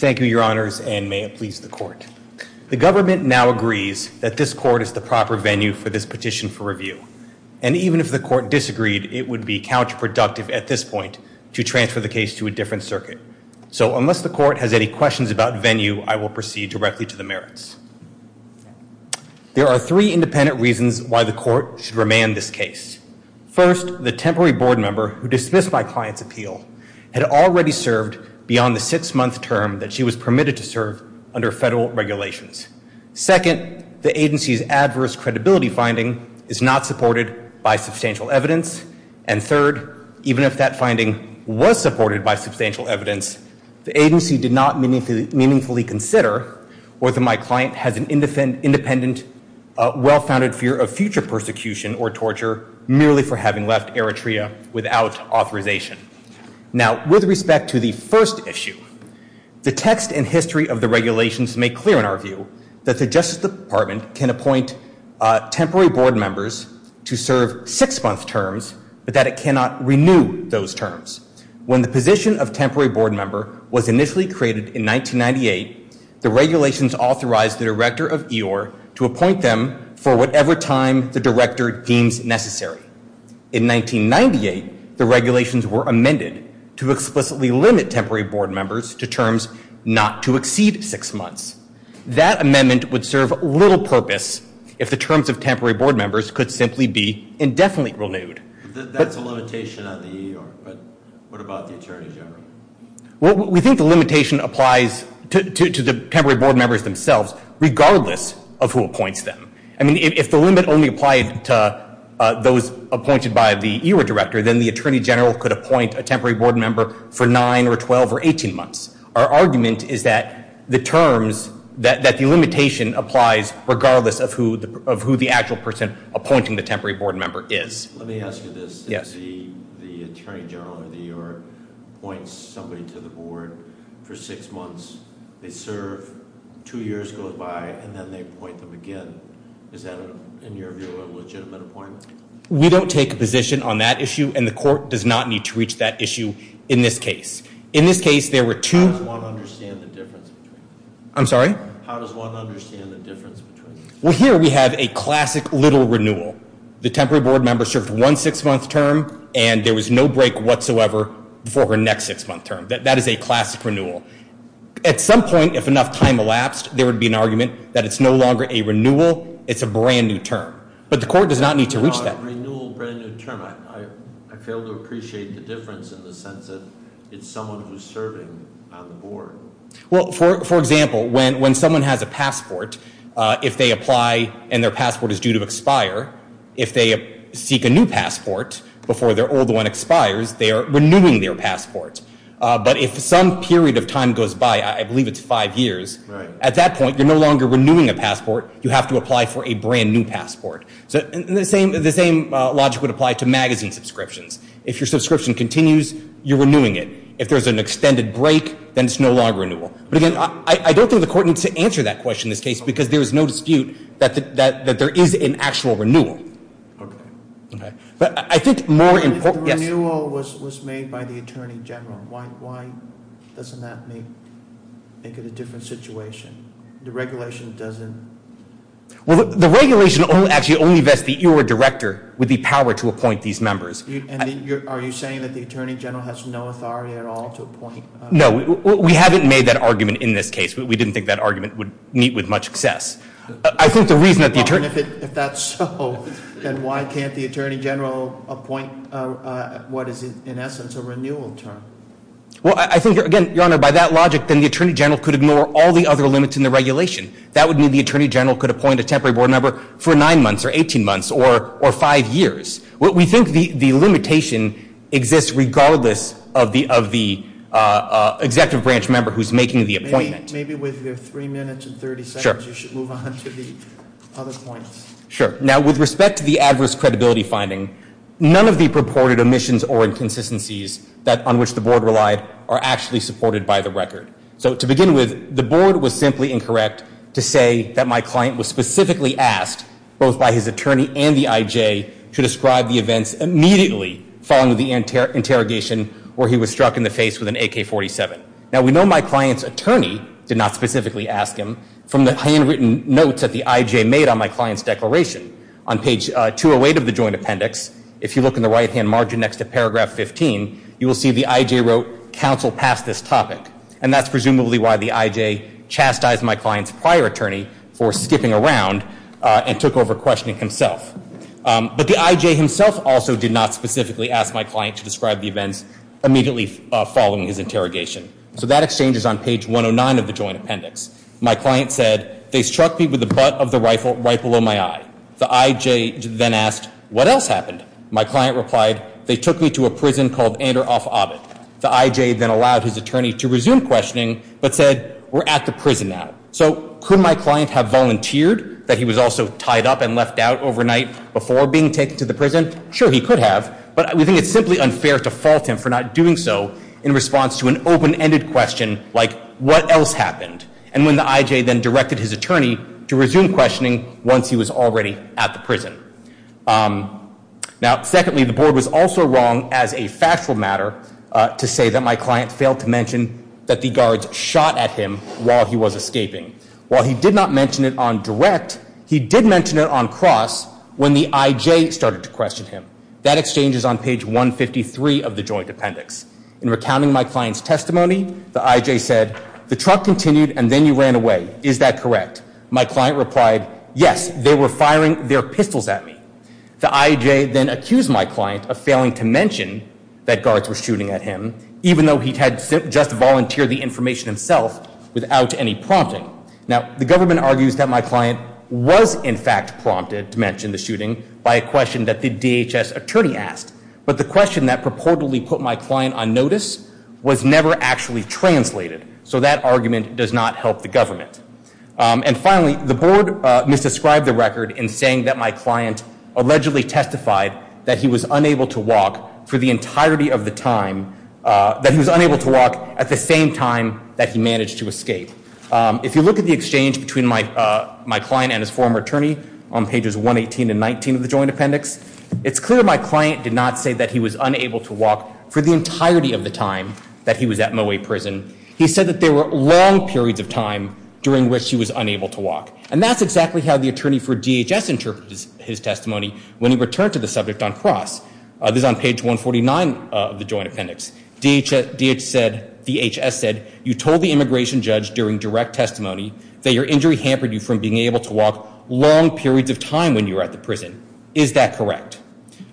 Thank you, Your Honors. And may it please the court. The government now agrees that this court is the proper venue for this petition for review. And even if the court disagreed, it would be counterproductive at this point to transfer the case to a different circuit. So unless the court has any questions about venue, I will proceed directly to the merits. There are three independent reasons why the court should remand this case. First, the temporary board member who dismissed my client's appeal had already served beyond the six-month term that she was permitted to serve under federal regulations. Second, the agency's adverse credibility finding is not supported by substantial evidence. And third, even if that finding was supported by substantial evidence, the agency did not meaningfully consider whether my client has an independent, well-founded fear of future persecution or torture merely for having left Eritrea without authorization. Now with respect to the first issue, the text and history of the regulations make clear in our view that the Justice Department can appoint temporary board members to serve six-month terms but that it cannot renew those terms. When the position of temporary board member was initially created in 1998, the regulations authorized the director of EOR to appoint them for whatever time the director deems necessary. In 1998, the regulations were amended to explicitly limit temporary board members to terms not to exceed six months. That amendment would serve little purpose if the terms of temporary board members could simply be indefinitely renewed. That's a limitation on the EOR, but what about the Attorney General? We think the limitation applies to the temporary board members themselves regardless of who appoints them. I mean, if the limit only applied to those appointed by the EOR director, then the Attorney General could appoint a temporary board member for nine or 12 or 18 months. Our argument is that the terms, that the limitation applies regardless of who the actual person appointing the temporary board member is. Let me ask you this. Yes. If the Attorney General of the EOR appoints somebody to the board for six months, they serve, two years goes by, and then they appoint them again, is that, in your view, a legitimate appointment? We don't take a position on that issue and the court does not need to reach that issue in this case. In this case, there were two- How does one understand the difference between them? I'm sorry? How does one understand the difference between them? Well, here we have a classic little renewal. The temporary board member served one six-month term and there was no break whatsoever for her next six-month term. That is a classic renewal. At some point, if enough time elapsed, there would be an argument that it's no longer a renewal, it's a brand new term. But the court does not need to reach that. No, a renewal, brand new term. I fail to appreciate the difference in the sense that it's someone who's serving on the board. Well, for example, when someone has a passport, if they apply and their passport is due to expire, if they seek a new passport before their old one expires, they are renewing their passport. But if some period of time goes by, I believe it's five years, at that point, you're no longer renewing a passport, you have to apply for a brand new passport. The same logic would apply to magazine subscriptions. If your subscription continues, you're renewing it. If there's an extended break, then it's no longer a renewal. But again, I don't think the court needs to answer that question in this case because there is no dispute that there is an actual renewal. But I think more important... If the renewal was made by the Attorney General, why doesn't that make it a different situation? The regulation doesn't... Well, the regulation actually only vests the ERA director with the power to appoint these members. And are you saying that the Attorney General has no authority at all to appoint... No, we haven't made that argument in this case. We didn't think that argument would meet with much success. I think the reason that the Attorney... If that's so, then why can't the Attorney General appoint what is, in essence, a renewal term? Well, I think, again, Your Honor, by that logic, then the Attorney General could ignore all the other limits in the regulation. That would mean the Attorney General could appoint a temporary board member for nine months or 18 months or five years. We think the limitation exists regardless of the executive branch member who's making the appointment. Maybe with your three minutes and 30 seconds, you should move on to the other points. Sure. Now, with respect to the adverse credibility finding, none of the purported omissions or inconsistencies on which the board relied are actually supported by the record. So to begin with, the board was simply incorrect to say that my client was specifically asked, both by his attorney and the IJ, to describe the events immediately following the interrogation where he was struck in the face with an AK-47. Now, we know my client's attorney did not specifically ask him from the handwritten notes that the IJ made on my client's declaration. On page 208 of the joint appendix, if you look in the right-hand margin next to paragraph 15, you will see the IJ wrote, counsel passed this topic. And that's presumably why the IJ chastised my client's prior attorney for skipping around and took over questioning himself. But the IJ himself also did not specifically ask my client to describe the events immediately following his interrogation. So that exchange is on page 109 of the joint appendix. My client said, they struck me with the butt of the rifle right below my eye. The IJ then asked, what else happened? My client replied, they took me to a prison called Andoroff Abbot. The IJ then allowed his attorney to resume questioning, but said, we're at the prison now. So could my client have volunteered that he was also tied up and left out overnight before being taken to the prison? Sure, he could have. But we think it's simply unfair to fault him for not doing so in response to an open-ended question like, what else happened? And when the IJ then directed his attorney to resume questioning once he was already at the prison. Now, secondly, the board was also wrong as a factual matter to say that my client failed to mention that the guards shot at him while he was escaping. While he did not mention it on direct, he did mention it on cross when the IJ started to question him. That exchange is on page 153 of the joint appendix. In recounting my client's testimony, the IJ said, the truck continued, and then you ran away. Is that correct? My client replied, yes, they were firing their pistols at me. The IJ then accused my client of failing to mention that guards were shooting at him, even though he had just volunteered the information himself without any prompting. Now, the government argues that my client was, in fact, prompted to mention the shooting by a question that the DHS attorney asked. But the question that purportedly put my client on notice was never actually translated. So that argument does not help the government. And finally, the board misdescribed the record in saying that my client allegedly testified that he was unable to walk for the entirety of the time, that he was unable to walk at the same time that he managed to escape. If you look at the exchange between my client and his former attorney on pages 118 and 119 of the joint appendix, it's clear my client did not say that he was unable to walk for the entirety of the time that he was at Moway Prison. He said that there were long periods of time during which he was unable to walk. And that's exactly how the attorney for DHS interprets his testimony when he returned to the subject on cross. This is on page 149 of the joint appendix. DHS said, you told the immigration judge during direct testimony that your injury hampered you from being able to walk long periods of time when you were at the prison. Is that correct?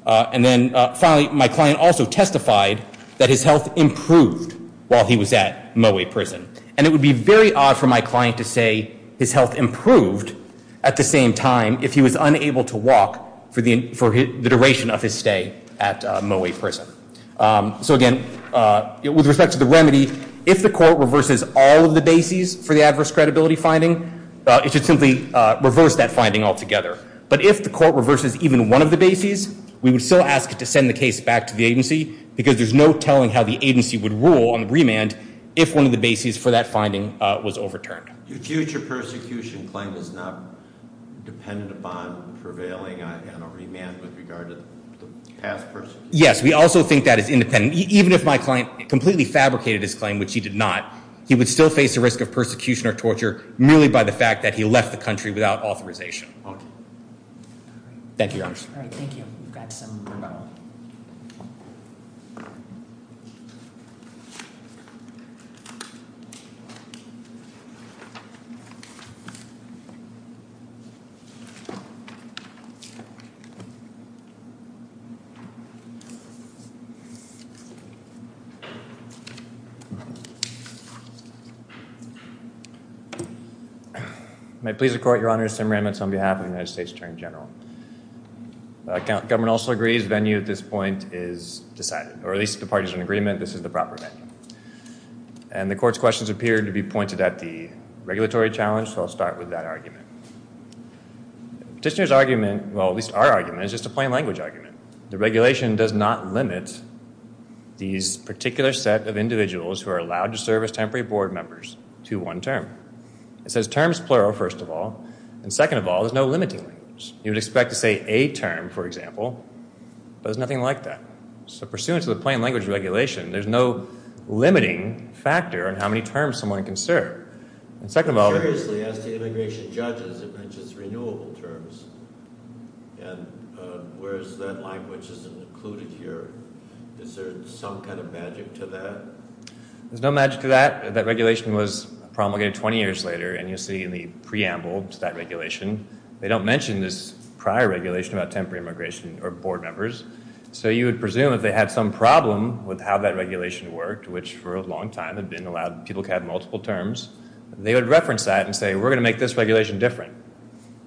And then finally, my client also testified that his health improved while he was at Moway Prison. And it would be very odd for my client to say his health improved at the same time if he was unable to walk for the duration of his stay at Moway Prison. So again, with respect to the remedy, if the court reverses all of the bases for the adverse credibility finding, it should simply reverse that finding altogether. But if the court reverses even one of the bases, we would still ask it to send the case back to the agency because there's no telling how the agency would rule on the remand if one of the bases for that finding was overturned. Your future persecution claim is not dependent upon prevailing on a remand with regard to the past person? Yes. We also think that is independent. Even if my client completely fabricated his claim, which he did not, he would still face the risk of persecution or torture merely by the fact that he left the country without authorization. Thank you, Your Honor. All right. Thank you. We've got some more. May it please the Court, Your Honor, Sam Ramitz on behalf of the United States Attorney General. Government also agrees venue at this point is decided, or at least the parties in agreement this is the proper venue. And the Court's questions appear to be pointed at the regulatory challenge, so I'll start with that argument. Petitioner's argument, well, at least our argument, is just a plain language argument. The regulation does not limit these particular set of individuals who are allowed to serve as temporary board members to one term. It says terms plural, first of all, and second of all, there's no limiting language. You would expect to say a term, for example, but there's nothing like that. So pursuant to the plain language regulation, there's no limiting factor in how many terms someone can serve. And second of all- But seriously, as the immigration judges, it mentions renewable terms, and whereas that language isn't included here, is there some kind of magic to that? There's no magic to that. That regulation was promulgated 20 years later, and you'll see in the preamble to that regulation, they don't mention this prior regulation about temporary immigration or board members. So you would presume if they had some problem with how that regulation worked, which for a long time had been allowed people to have multiple terms, they would reference that and say, we're going to make this regulation different.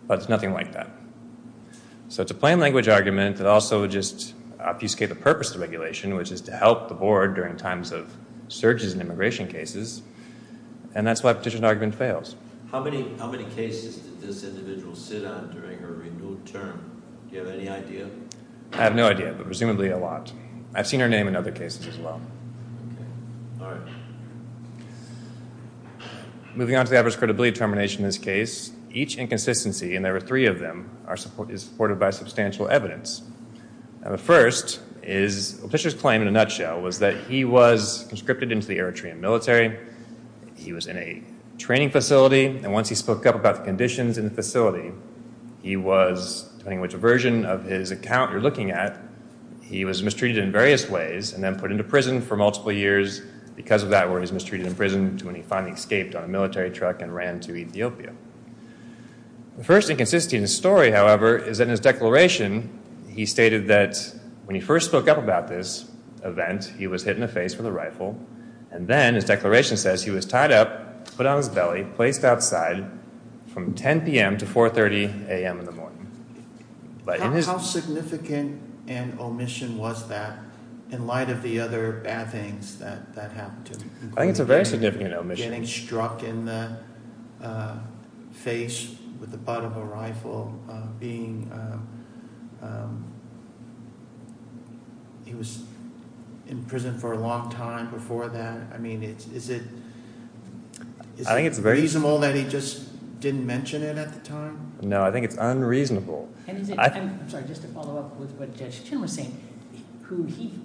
But it's nothing like that. So it's a plain language argument that also would just obfuscate the purpose of the regulation, which is to help the board during times of surges in immigration cases, and that's why petitioned argument fails. How many cases did this individual sit on during her renewed term? Do you have any idea? I have no idea, but presumably a lot. I've seen her name in other cases as well. All right. Moving on to the adverse credibility determination in this case. Each inconsistency, and there were three of them, is supported by substantial evidence. Now the first is, the petitioner's claim in a nutshell was that he was conscripted into the Eritrean military. He was in a training facility, and once he spoke up about the conditions in the facility, he was, depending on which version of his account you're looking at, he was mistreated in various ways and then put into prison for multiple years. Because of that, he was mistreated in prison until he finally escaped on a military truck and ran to Ethiopia. The first inconsistency in the story, however, is that in his declaration, he stated that when he first spoke up about this event, he was hit in the face with a rifle, and then his declaration says he was tied up, put on his belly, placed outside from 10 p.m. to 4.30 a.m. in the morning. How significant an omission was that, in light of the other bad things that happened to him? I think it's a very significant omission. Getting struck in the face with the butt of a rifle, being, he was in prison for a long time before that, I mean, is it reasonable that he just didn't mention it at the time? No, I think it's unreasonable. I'm sorry, just to follow up with what Judge Chin was saying,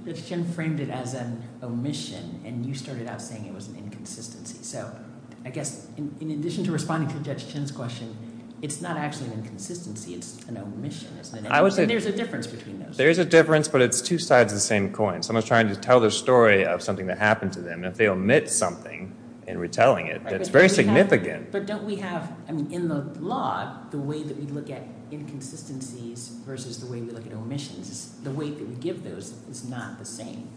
Judge Chin framed it as an omission, and you started out saying it was an inconsistency. So, I guess, in addition to responding to Judge Chin's question, it's not actually an inconsistency, it's an omission, isn't it? There's a difference between those. There's a difference, but it's two sides of the same coin. Someone's trying to tell the story of something that happened to them, and if they omit something in retelling it, it's very significant. But don't we have, I mean, in the law, the way that we look at inconsistencies versus the way we look at omissions, the way that we give those is not the same.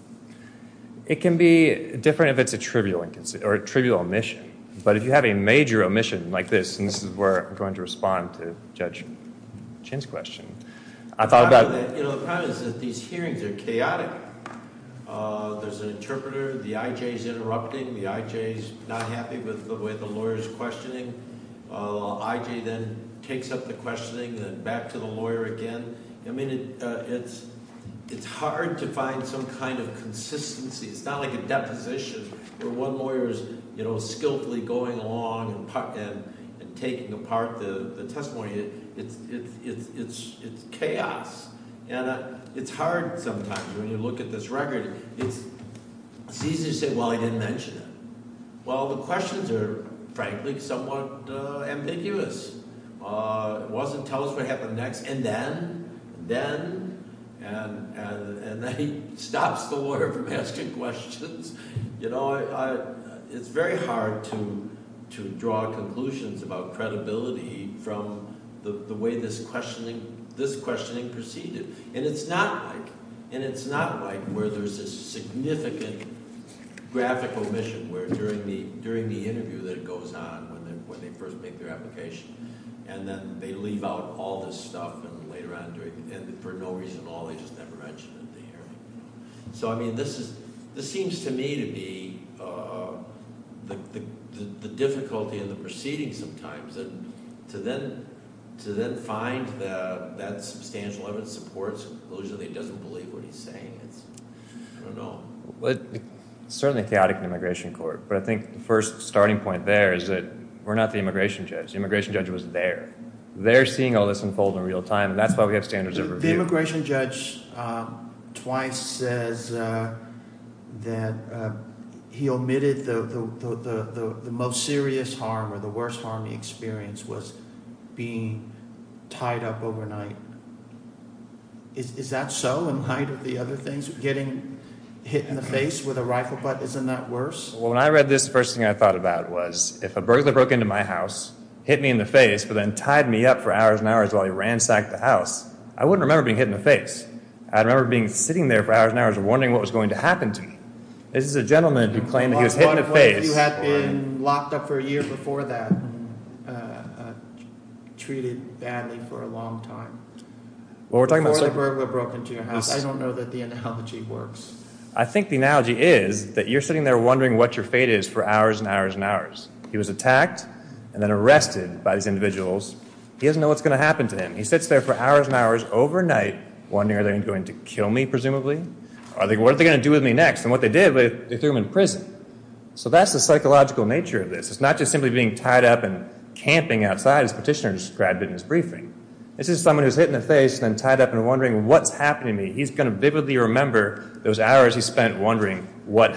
It can be different if it's a trivial omission, but if you have a major omission like this, and this is where I'm going to respond to Judge Chin's question. The problem is that these hearings are chaotic. There's an interpreter, the I.J.'s interrupting, the I.J.'s not happy with the way the lawyer's questioning. The I.J. then takes up the questioning and back to the lawyer again. I mean, it's hard to find some kind of consistency. It's not like a deposition where one lawyer is skillfully going along and taking apart the testimony. It's chaos, and it's hard sometimes when you look at this record. It's easy to say, well, I didn't mention it. Well, the questions are, frankly, somewhat ambiguous. It wasn't tell us what happened next, and then, and then, and then he stops the lawyer from asking questions. You know, it's very hard to draw conclusions about credibility from the way this questioning proceeded, and it's not like where there's a significant graphical omission where during the interview that it goes on when they first make their application, and then they leave out all this stuff, and later on, for no reason at all, they just never mention it at the hearing. So, I mean, this seems to me to be the difficulty in the proceedings sometimes, and to then find that substantial evidence supports a conclusion that he doesn't believe what he's saying, it's, I don't know. It's certainly chaotic in the immigration court, but I think the first starting point there is that we're not the immigration judge. The immigration judge was there. They're seeing all this unfold in real time, and that's why we have standards of review. The immigration judge twice says that he omitted the most serious harm or the worst harm he experienced was being tied up overnight. Is that so in light of the other things? Getting hit in the face with a rifle butt, isn't that worse? Well, when I read this, the first thing I thought about was if a burglar broke into my house, hit me in the face, but then tied me up for hours and hours while he ransacked the house, I wouldn't remember being hit in the face. I'd remember sitting there for hours and hours wondering what was going to happen to me. This is a gentleman who claimed he was hit in the face. I think you had been locked up for a year before that and treated badly for a long time. Before the burglar broke into your house. I don't know that the analogy works. I think the analogy is that you're sitting there wondering what your fate is for hours and hours and hours. He was attacked and then arrested by these individuals. He doesn't know what's going to happen to him. He sits there for hours and hours overnight wondering, are they going to kill me, presumably? What are they going to do with me next? And what they did was they threw him in prison. So that's the psychological nature of this. It's not just simply being tied up and camping outside as Petitioner described it in his briefing. This is someone who's hit in the face and then tied up and wondering, what's happening to me? He's going to vividly remember those hours he spent wondering what's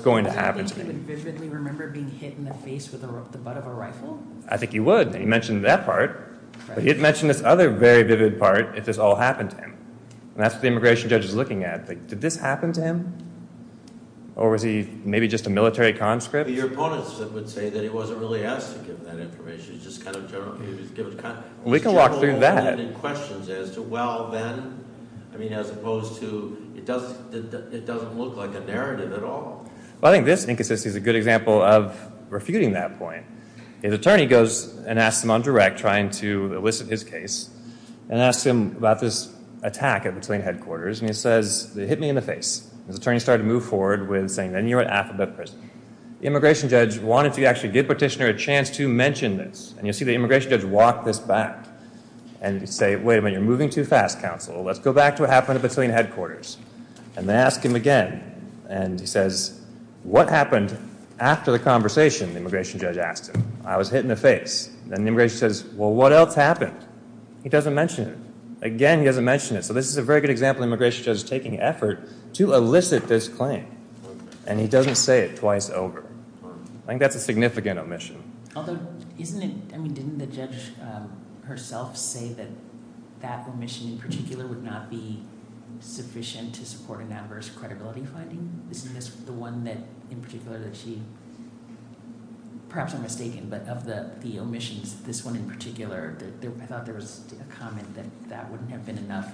going to happen to him. Do you think he would vividly remember being hit in the face with the butt of a rifle? I think he would. He mentioned that part. But he'd mention this other very vivid part if this all happened to him. And that's what the immigration judge is looking at. Did this happen to him? Or was he maybe just a military conscript? Your opponents would say that he wasn't really asked to give that information. He was just kind of generally given time. We can walk through that. He's generally given questions as to, well, then, as opposed to, it doesn't look like a narrative at all. I think this inconsistency is a good example of refuting that point. His attorney goes and asks him on direct, trying to elicit his case, and asks him about this attack at the train headquarters. And he says, they hit me in the face. His attorney started to move forward with saying, then you're in alphabet prison. The immigration judge wanted to actually give Petitioner a chance to mention this. And you'll see the immigration judge walk this back and say, wait a minute, you're moving too fast, counsel. Let's go back to what happened at the train headquarters. And they ask him again. And he says, what happened after the conversation? The immigration judge asked him. I was hit in the face. Then the immigration judge says, well, what else happened? He doesn't mention it. Again, he doesn't mention it. So this is a very good example of an immigration judge taking effort to elicit this claim. And he doesn't say it twice over. I think that's a significant omission. Although, didn't the judge herself say that that omission in particular would not be sufficient to support an adverse credibility finding? Isn't this the one that in particular that she, perhaps I'm mistaken, but of the omissions, this one in particular, I thought there was a comment that that wouldn't have been enough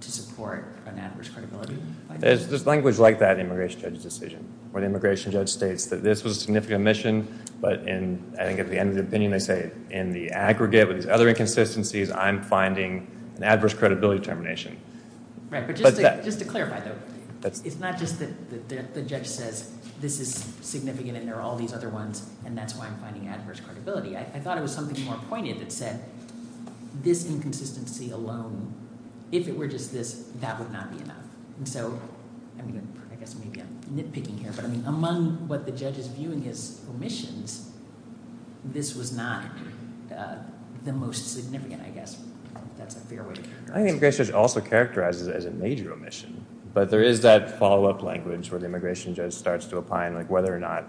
to support an adverse credibility finding. There's language like that in the immigration judge's decision, where the immigration judge states that this was a significant omission. But I think at the end of the opinion, they say, in the aggregate with these other inconsistencies, I'm finding an adverse credibility termination. Right. But just to clarify, though, it's not just that the judge says, this is significant and there are all these other ones, and that's why I'm finding adverse credibility. I thought it was something more pointed that said, this inconsistency alone, if it were just this, that would not be enough. And so, I mean, I guess maybe I'm nitpicking here, but I mean, among what the judge is viewing as omissions, this was not the most significant, I guess. That's a fair way to characterize it. I think the immigration judge also characterizes it as a major omission. But there is that follow-up language where the immigration judge starts to opine, like whether or not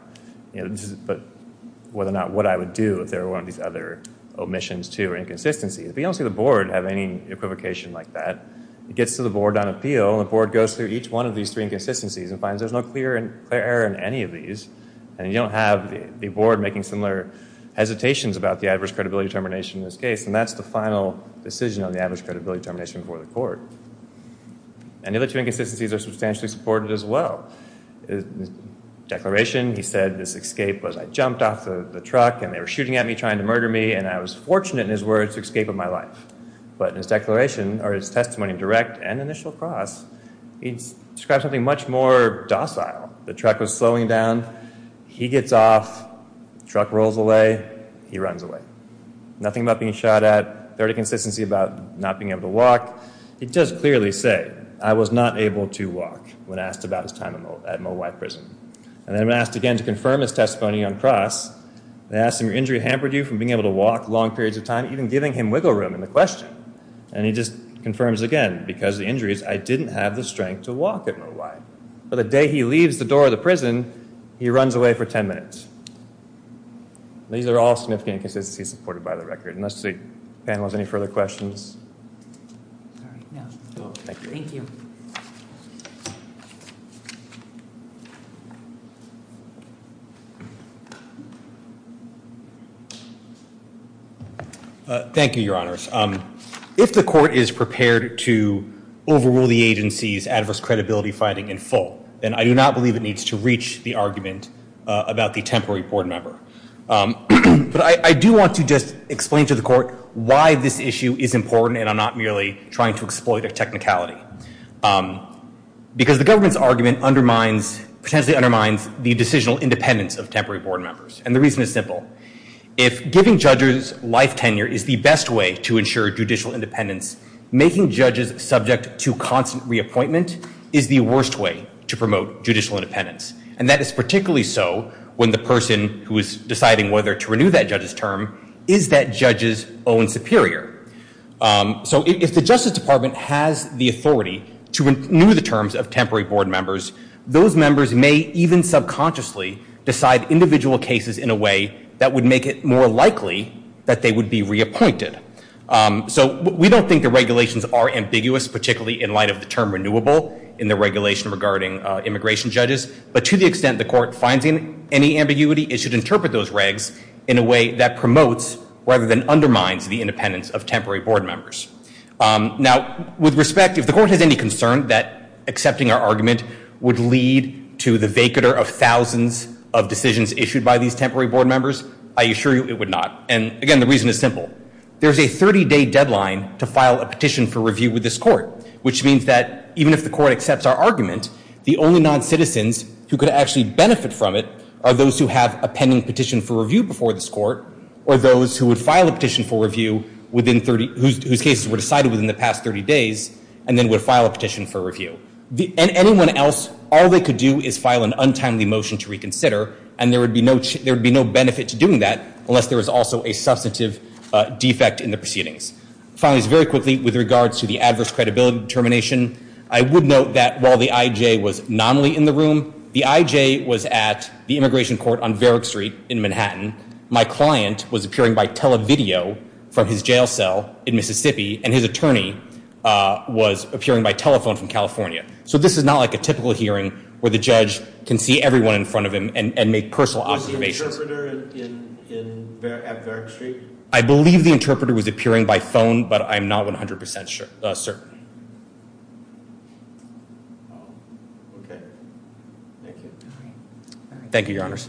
what I would do if there were one of these other omissions, too, or inconsistencies. But you don't see the board have any equivocation like that. It gets to the board on appeal, and the board goes through each one of these three inconsistencies and finds there's no clear error in any of these. And you don't have the board making similar hesitations about the adverse credibility termination in this case, and that's the final decision on the adverse credibility termination before the court. And the other two inconsistencies are substantially supported as well. Declaration, he said this escape was I jumped off the truck, and they were shooting at me trying to murder me, and I was fortunate in his words to escape with my life. But in his declaration, or his testimony in direct and initial cross, he describes something much more docile. The truck was slowing down. He gets off. Truck rolls away. He runs away. Nothing about being shot at. Third inconsistency about not being able to walk. He does clearly say, I was not able to walk when asked about his time at Mowai Prison. And then when asked again to confirm his testimony on cross, they ask him, your injury hampered you from being able to walk long periods of time, even giving him wiggle room in the question. And he just confirms again, because of the injuries, I didn't have the strength to walk at Mowai. By the day he leaves the door of the prison, he runs away for 10 minutes. These are all significant inconsistencies supported by the record. Unless the panel has any further questions. Thank you. Thank you, Your Honors. If the court is prepared to overrule the agency's adverse credibility finding in full, then I do not believe it needs to reach the argument about the temporary board member. But I do want to just explain to the court why this issue is important and I'm not merely trying to exploit a technicality. Because the government's argument undermines, potentially undermines the decisional independence of temporary board members. And the reason is simple. If giving judges life tenure is the best way to ensure judicial independence, making judges subject to constant reappointment is the worst way to promote judicial independence. And that is particularly so when the person who is deciding whether to renew that judge's term is that judge's own superior. So if the Justice Department has the authority to renew the terms of temporary board members, those members may even subconsciously decide individual cases in a way that would make it more likely that they would be reappointed. So we don't think the regulations are ambiguous, particularly in light of the term renewable in the regulation regarding immigration judges. But to the extent the court finds any ambiguity, it should interpret those regs in a way that promotes rather than undermines the independence of temporary board members. Now, with respect, if the court has any concern that accepting our argument would lead to the vacater of thousands of decisions issued by these temporary board members, I assure you it would not. And, again, the reason is simple. There's a 30-day deadline to file a petition for review with this court, which means that even if the court accepts our argument, the only non-citizens who could actually benefit from it are those who have a pending petition for review before this court or those who would file a petition for review whose cases were decided within the past 30 days and then would file a petition for review. Anyone else, all they could do is file an untimely motion to reconsider, and there would be no benefit to doing that unless there was also a substantive defect in the proceedings. Finally, very quickly, with regards to the adverse credibility determination, I would note that while the I.J. was nominally in the room, the I.J. was at the immigration court on Verrick Street in Manhattan. My client was appearing by televideo from his jail cell in Mississippi, and his attorney was appearing by telephone from California. So this is not like a typical hearing where the judge can see everyone in front of him and make personal observations. Was the interpreter at Verrick Street? I believe the interpreter was appearing by phone, but I'm not 100% certain. Oh, okay. Thank you. Thank you, Your Honors.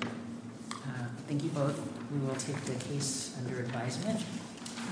Thank you both. We will take the case under advisement.